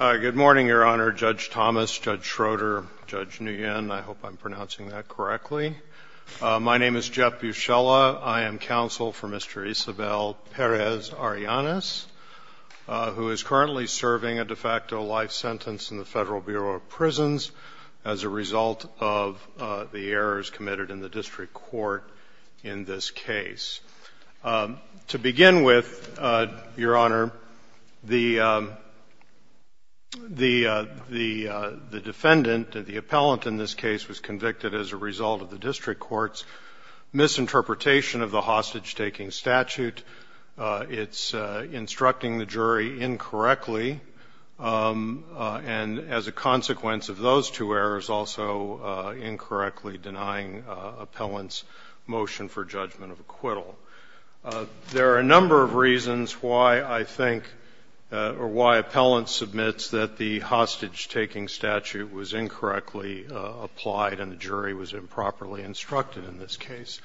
Good morning, Your Honor, Judge Thomas, Judge Schroeder, Judge Nguyen. I hope I'm pronouncing that correctly. My name is Jeff Buscella. I am counsel for Mr. Isabel Perez-Arellanez, who is currently serving a de facto life sentence in the Federal Bureau of Prisons as a result of the errors committed in the district court in this case. To begin with, Your Honor, the defendant, the appellant in this case, was convicted as a result of the district court's misinterpretation of the hostage-taking statute. It's instructing the jury incorrectly, and as a consequence of those two errors, the jury is also incorrectly denying appellant's motion for judgment of acquittal. There are a number of reasons why I think or why appellant submits that the hostage-taking statute was incorrectly applied and the jury was improperly instructed in this case.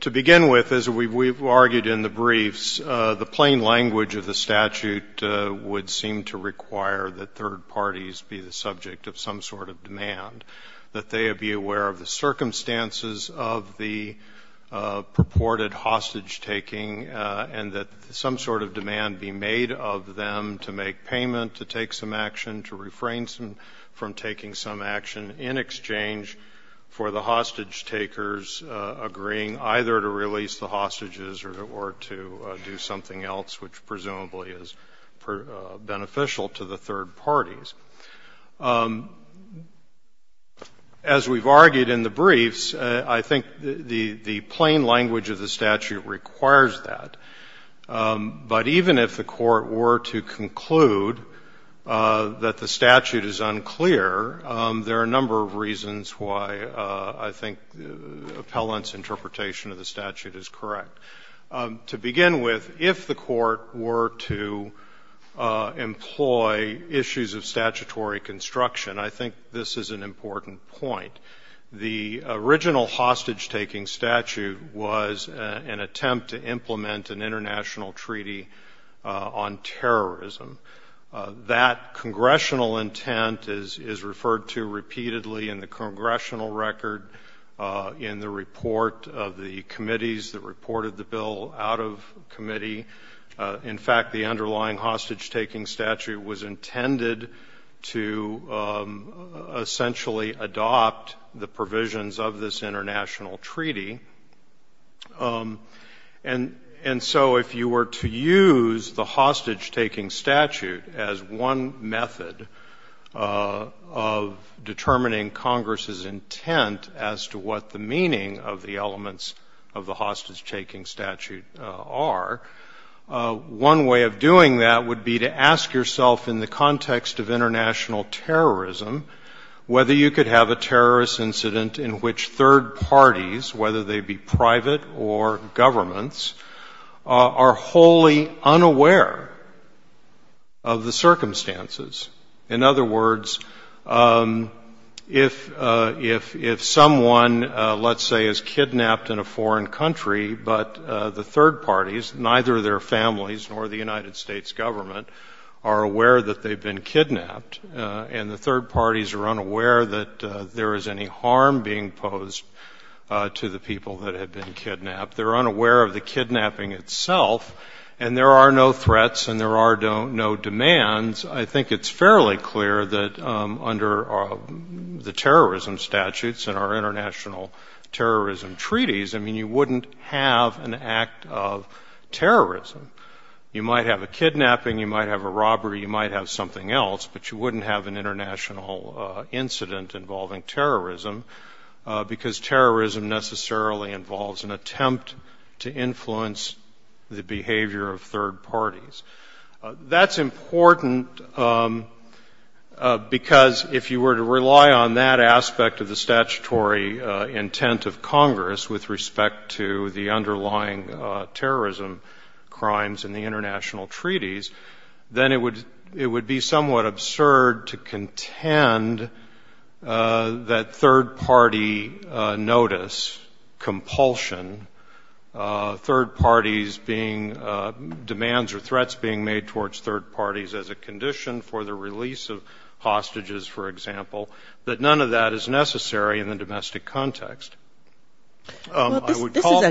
To begin with, as we've argued in the briefs, the plain language of the statute would seem to require that third parties be the subject of some sort of demand, that they be aware of the circumstances of the purported hostage-taking and that some sort of demand be made of them to make payment, to take some action, to refrain from taking some action in exchange for the hostage-takers agreeing either to release the hostages or to do something else, which presumably is beneficial to the third parties. As we've argued in the briefs, I think the plain language of the statute requires that. But even if the Court were to conclude that the statute is unclear, there are a number of reasons why I think appellant's interpretation of the statute is correct. To begin with, if the Court were to employ issues of statutory construction, I think this is an important point. The original hostage-taking statute was an attempt to implement an international treaty on terrorism. That congressional intent is referred to repeatedly in the congressional record, in the report of the committees that reported the bill out of committee. In fact, the underlying hostage-taking statute was intended to essentially adopt the provisions of this international treaty. And so if you were to use the hostage-taking statute as one method of determining Congress's intent as to what the meaning of the elements of the hostage-taking statute are, one way of doing that would be to ask yourself in the context of international terrorism whether you could have a terrorist incident in which third parties, whether they be private or governments, are wholly unaware of the circumstances. In other words, if someone, let's say, is kidnapped in a foreign country, but the third parties, neither their families nor the United States government, are aware that they've been kidnapped, and the third parties are unaware that there is any threat posed to the people that have been kidnapped, they're unaware of the kidnapping itself, and there are no threats and there are no demands, I think it's fairly clear that under the terrorism statutes and our international terrorism treaties, I mean, you wouldn't have an act of terrorism. You might have a kidnapping, you might have a robbery, you might have something else, but you wouldn't have an international incident involving terrorism, because terrorism necessarily involves an attempt to influence the behavior of third parties. That's important because if you were to rely on that aspect of the statutory intent of Congress with respect to the underlying terrorism crimes in the United States, it would be somewhat absurd to contend that third-party notice, compulsion, third parties being, demands or threats being made towards third parties as a condition for the release of hostages, for example, that none of that is necessary in the domestic context. I would call... I would call on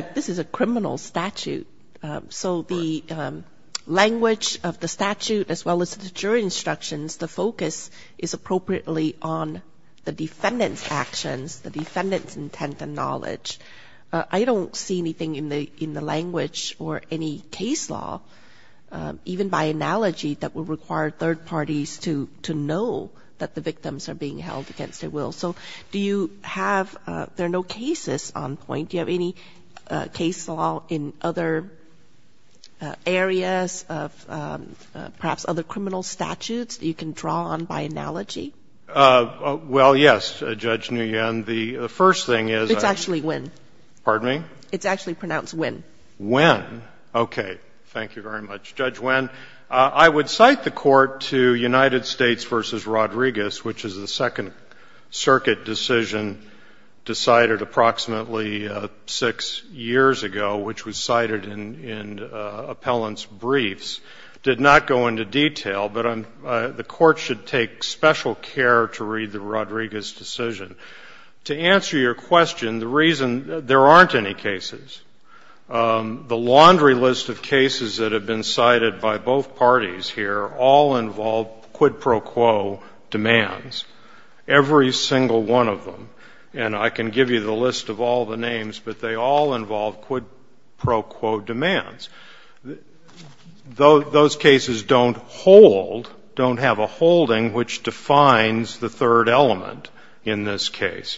the defense actions, the focus is appropriately on the defendant's actions, the defendant's intent and knowledge. I don't see anything in the language or any case law, even by analogy, that would require third parties to know that the victims are being held against their will. So do you have... Do you have any case law in other areas of perhaps other criminal statutes that you can draw on by analogy? Well, yes, Judge Nguyen. The first thing is... It's actually Nguyen. Pardon me? It's actually pronounced Nguyen. Nguyen. Okay. Thank you very much, Judge Nguyen. I would cite the Court to United States v. Rodriguez, which is the Second Circuit decision decided approximately six years ago, which was cited in appellant's briefs, did not go into detail. But the Court should take special care to read the Rodriguez decision. To answer your question, the reason... There aren't any cases. The laundry list of cases that have been cited by both parties here all involve quid pro quo demands, every single one of them. And I can give you the list of all the names, but they all involve quid pro quo demands. Those cases don't hold, don't have a holding, which defines the third element in this case.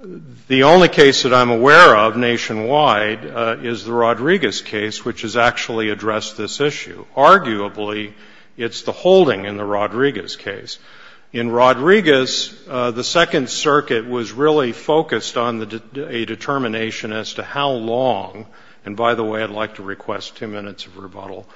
The only case that I'm aware of nationwide is the Rodriguez case, which has actually addressed this issue. Arguably, it's the holding in the Rodriguez case. In Rodriguez, the Second Circuit was really focused on a determination as to how long, and by the way, I'd like to request two minutes of rebuttal,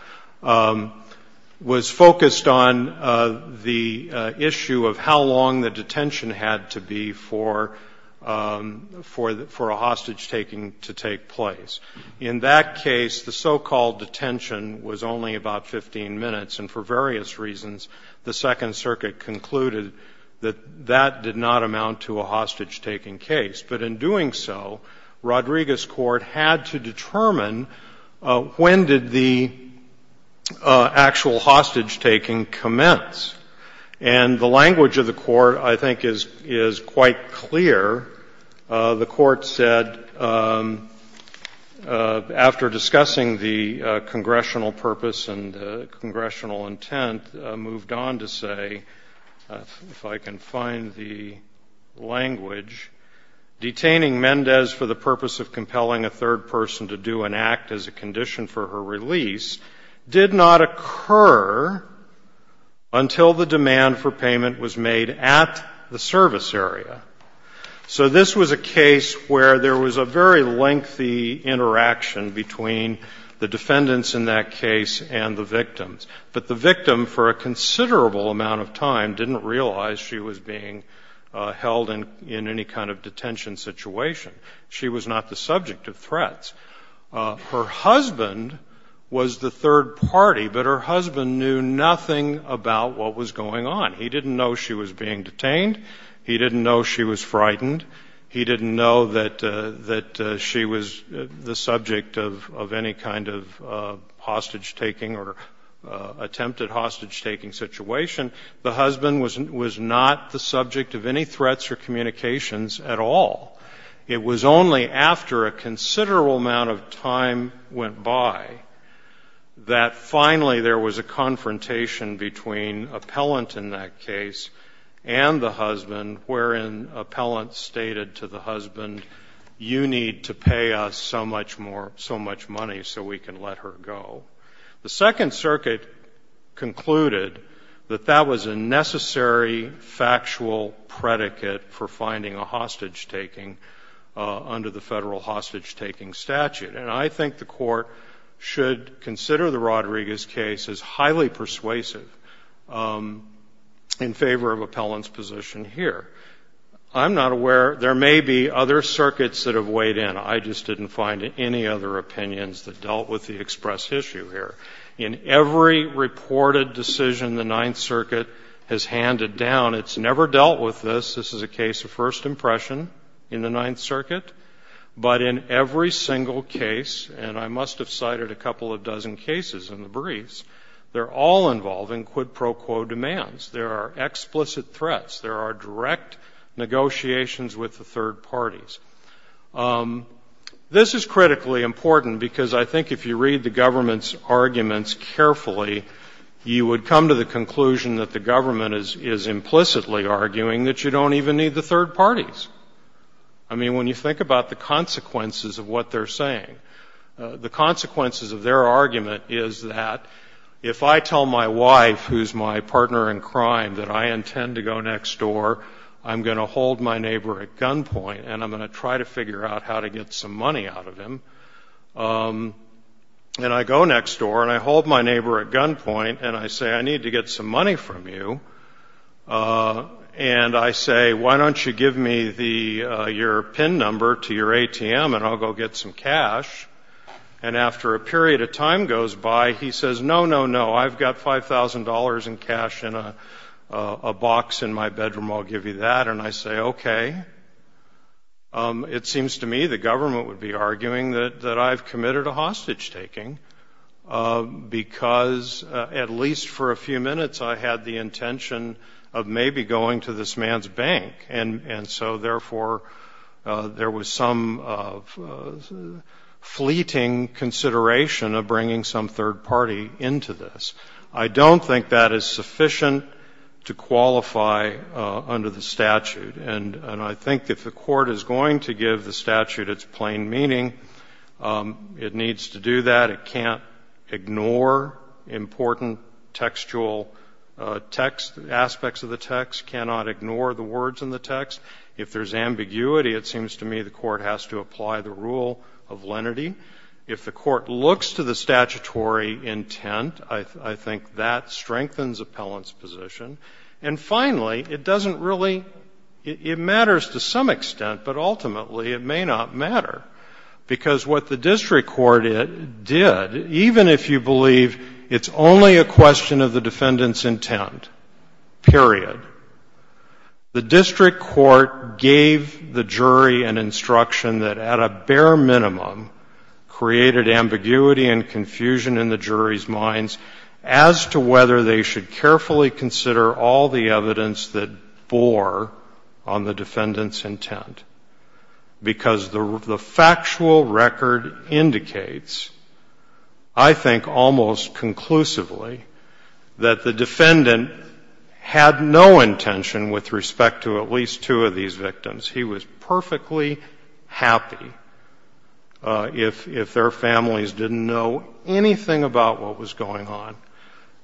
was focused on the issue of how long the detention had to be for a hostage-taking to take place. In that case, the so-called detention was only about 15 minutes, and for various reasons, the Second Circuit concluded that that did not amount to a hostage-taking case. But in doing so, Rodriguez Court had to determine when did the actual hostage-taking commence. And the language of the Court, I think, is quite clear. The Court said, after discussing the congressional purpose and congressional intent, moved on to say, if I can find the language, detaining Mendez for the purpose of compelling a third person to do an act as a condition for her release did not occur until the demand for payment was made at the service area. So this was a case where there was a very lengthy interaction between the defendants in that case and the victims, but the victim, for a considerable amount of time, didn't realize she was being held in any kind of detention situation. She was not the subject of threats. Her husband was the third party, but her husband knew nothing about what was going on. He didn't know she was being detained. He didn't know she was frightened. He didn't know that she was the subject of any kind of hostage-taking or attempted hostage-taking situation. The husband was not the subject of any threats or communications at all. It was only after a considerable amount of time went by that finally there was a confrontation between appellant in that case and the husband, wherein appellant stated to the husband, you need to pay us so much money so we can let her go. The Second Circuit concluded that that was a necessary factual predicate for finding a hostage-taking under the federal hostage-taking statute. And I think the Court should consider the Rodriguez case as highly persuasive in favor of appellant's position here. I'm not aware. There may be other circuits that have weighed in. I just didn't find any other opinions that dealt with the express issue here. In every reported decision the Ninth Circuit has handed down, it's never dealt with this. This is a case of first impression in the Ninth Circuit. But in every single case, and I must have cited a couple of dozen cases in the briefs, they're all involving quid pro quo demands. There are explicit threats. There are direct negotiations with the third parties. This is critically important, because I think if you read the government's arguments carefully, you would come to the conclusion that the government is implicitly arguing that you don't even need the third parties. I mean, when you think about the consequences of what they're saying, the consequences of their argument is that if I tell my wife, who's my partner in crime, that I intend to go next door, I'm going to hold my neighbor at gunpoint, and I'm going to try to figure out how to get some money out of him. And I go next door, and I hold my neighbor at gunpoint, and I say, I need to get some money from you. And I say, why don't you give me your PIN number to your ATM, and I'll go get some cash. And after a period of time goes by, he says, no, no, no, I've got $5,000 in cash in a box in my bedroom. I'll give you that. And I say, okay. It seems to me the government would be arguing that I've committed a hostage-taking, because at least for a few minutes I had the intention of maybe going to this man's bank. And so, therefore, there was some fleeting consideration of bringing some third party into this. I don't think that is sufficient to qualify under the statute. And I think if the Court is going to give the statute its plain meaning, it needs to do that. It can't ignore important textual text, aspects of the text, cannot ignore the words in the text. If there's ambiguity, it seems to me the Court has to apply the rule of lenity. If the Court looks to the statutory intent, I think that strengthens Appellant's position. And finally, it doesn't really — it matters to some extent, but ultimately it may not matter. It's only a question of the defendant's intent, period. The district court gave the jury an instruction that at a bare minimum created ambiguity and confusion in the jury's minds as to whether they should carefully consider all the evidence that bore on the defendant's intent. Because the factual record indicates, I think, almost conclusively that the defendant had no intention with respect to at least two of these victims. He was perfectly happy if their families didn't know anything about what was going on.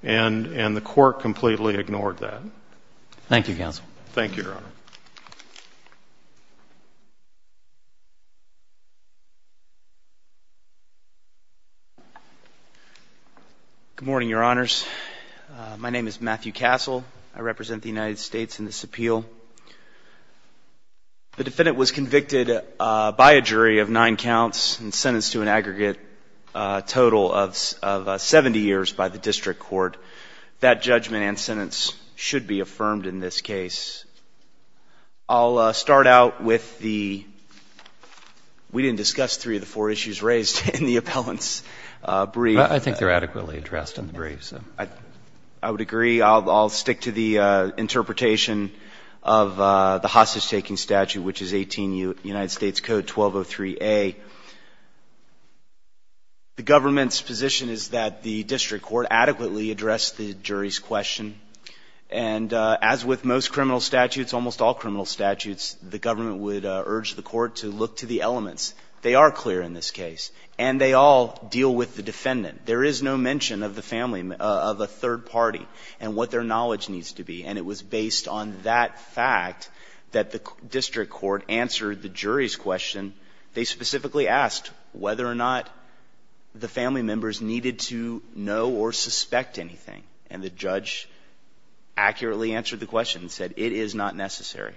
And the Court completely ignored that. Thank you, counsel. Thank you, Your Honor. Good morning, Your Honors. My name is Matthew Castle. I represent the United States in this appeal. The defendant was convicted by a jury of nine counts and sentenced to an aggregate total of 70 years by the district court. That judgment and sentence are in place. I'll start out with the — we didn't discuss three of the four issues raised in the Appellant's brief. I think they're adequately addressed in the brief, so. I would agree. I'll stick to the interpretation of the hostage-taking statute, which is 18 U.S. Code 1203a. The government's position is that the district court adequately addressed the jury's question. And as with most criminal statutes, almost all criminal statutes, the government would urge the court to look to the elements. They are clear in this case. And they all deal with the defendant. There is no mention of the family — of a third party and what their knowledge needs to be. And it was based on that fact that the district court answered the jury's question. They specifically asked whether or not the family members needed to know or suspect anything. And the judge accurately answered the question and said, it is not necessary.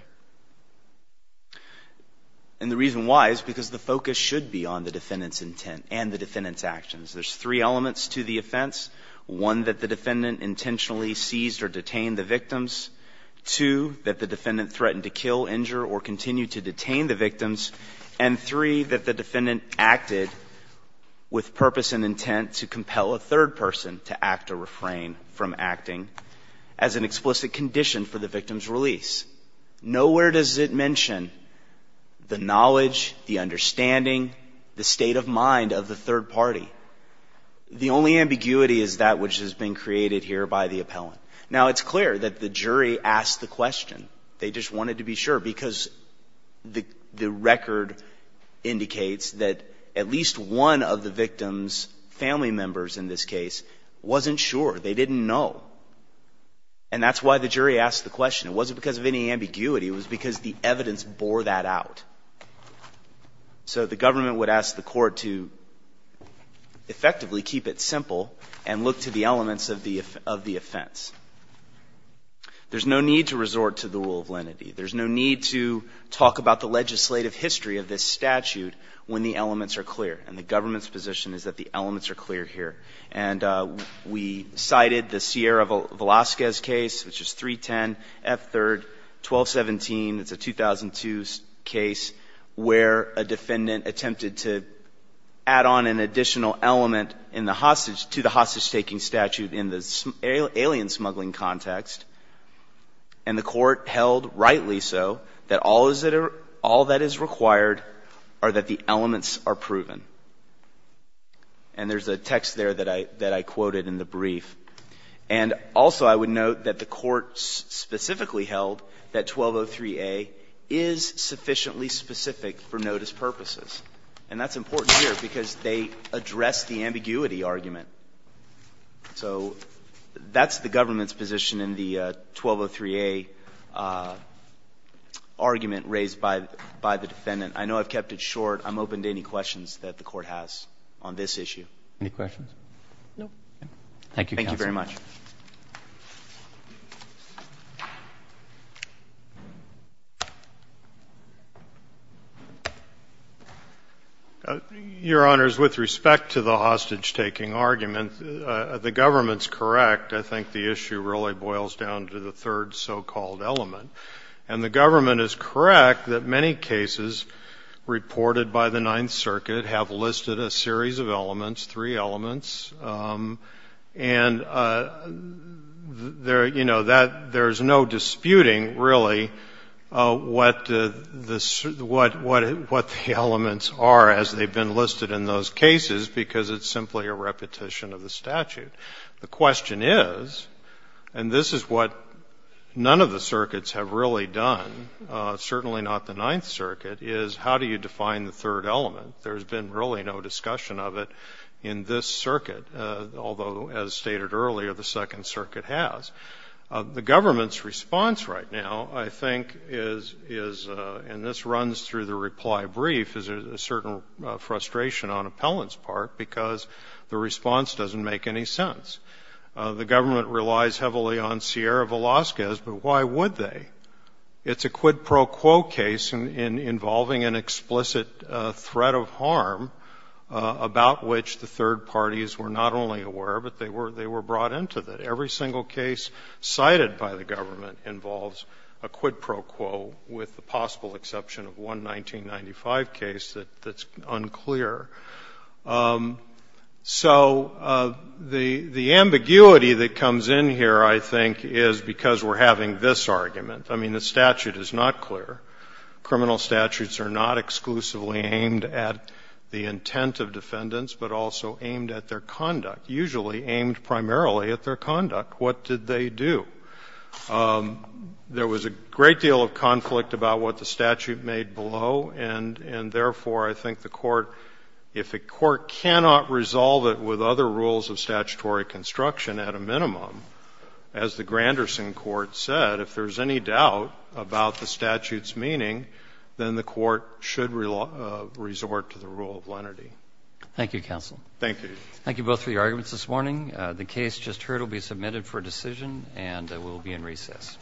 And the reason why is because the focus should be on the defendant's intent and the defendant's actions. There's three elements to the offense. One, that the defendant intentionally seized or detained the victims. Two, that the defendant threatened to kill, injure, or continue to detain the victims. And three, that the defendant acted with purpose and intent to compel a third person to act or refrain from acting as an explicit condition for the victim's release. Nowhere does it mention the knowledge, the understanding, the state of mind of the third party. The only ambiguity is that which has been created here by the appellant. Now, it's clear that the jury asked the question. They just wanted to be sure because the record indicates that at least one of the victims' family members in this case wasn't sure. They didn't know. And that's why the jury asked the question. It wasn't because of any ambiguity. It was because the evidence bore that out. So the government would ask the court to effectively keep it simple and look to the elements of the offense. There's no need to resort to the rule of lenity. There's no need to talk about the legislative history of this statute when the elements are clear. And the government's position is that the elements are clear here. And we cited the Sierra Velazquez case, which is 310 F. 3rd, 1217. It's a 2002 case where a defendant attempted to add on an additional element in the hostage, to the hostage-taking statute in the alien smuggling context. And the court held, rightly so, that all that is required are that the elements are proven. And there's a text there that I quoted in the brief. And also, I would note that the court specifically held that 1203A is sufficiently specific for notice purposes. And that's important here because they address the ambiguity of the argument. So that's the government's position in the 1203A argument raised by the defendant. I know I've kept it short. I'm open to any questions that the court has on this issue. Any questions? Thank you, counsel. Thank you very much. Your Honors, with respect to the hostage-taking argument, the government's correct. I think the issue really boils down to the third so-called element. And the government is correct that many cases reported by the Ninth Circuit have listed a series of elements, three elements. And there's no disputing, really, what the elements are as they've been listed in those cases, because it's simply a repetition of the statute. The question is, and this is what none of the circuits have really done, certainly not the Ninth Circuit, is how do you define the third element? There's been really no discussion of it. In this circuit, although as stated earlier, the Second Circuit has. The government's response right now, I think, is, and this runs through the reply brief, is a certain frustration on appellant's part because the response doesn't make any sense. The government relies heavily on Sierra Velazquez, but why would they? It's a quid pro quo case involving an explicit threat of harm about which the third parties were not only aware, but they were brought into it. Every single case cited by the government involves a quid pro quo, with the possible exception of one 1995 case that's unclear. So the ambiguity that comes in here, I think, is because we're having this argument. I mean, the statute is not clear. Criminal statutes are not exclusively aimed at the intent of defendants, but also aimed at their conduct, usually aimed primarily at their conduct. What did they do? There was a great deal of conflict about what the statute made below, and therefore, I think the Court, if a Court cannot resolve it with other rules of statutory construction at a minimum, as the Granderson Court said, if there's any doubt about the statute's meaning, then the Court should resort to the rule of lenity. Thank you, Counsel. Thank you. Thank you both for your arguments this morning. The case just heard will be submitted for decision, and it will be in recess.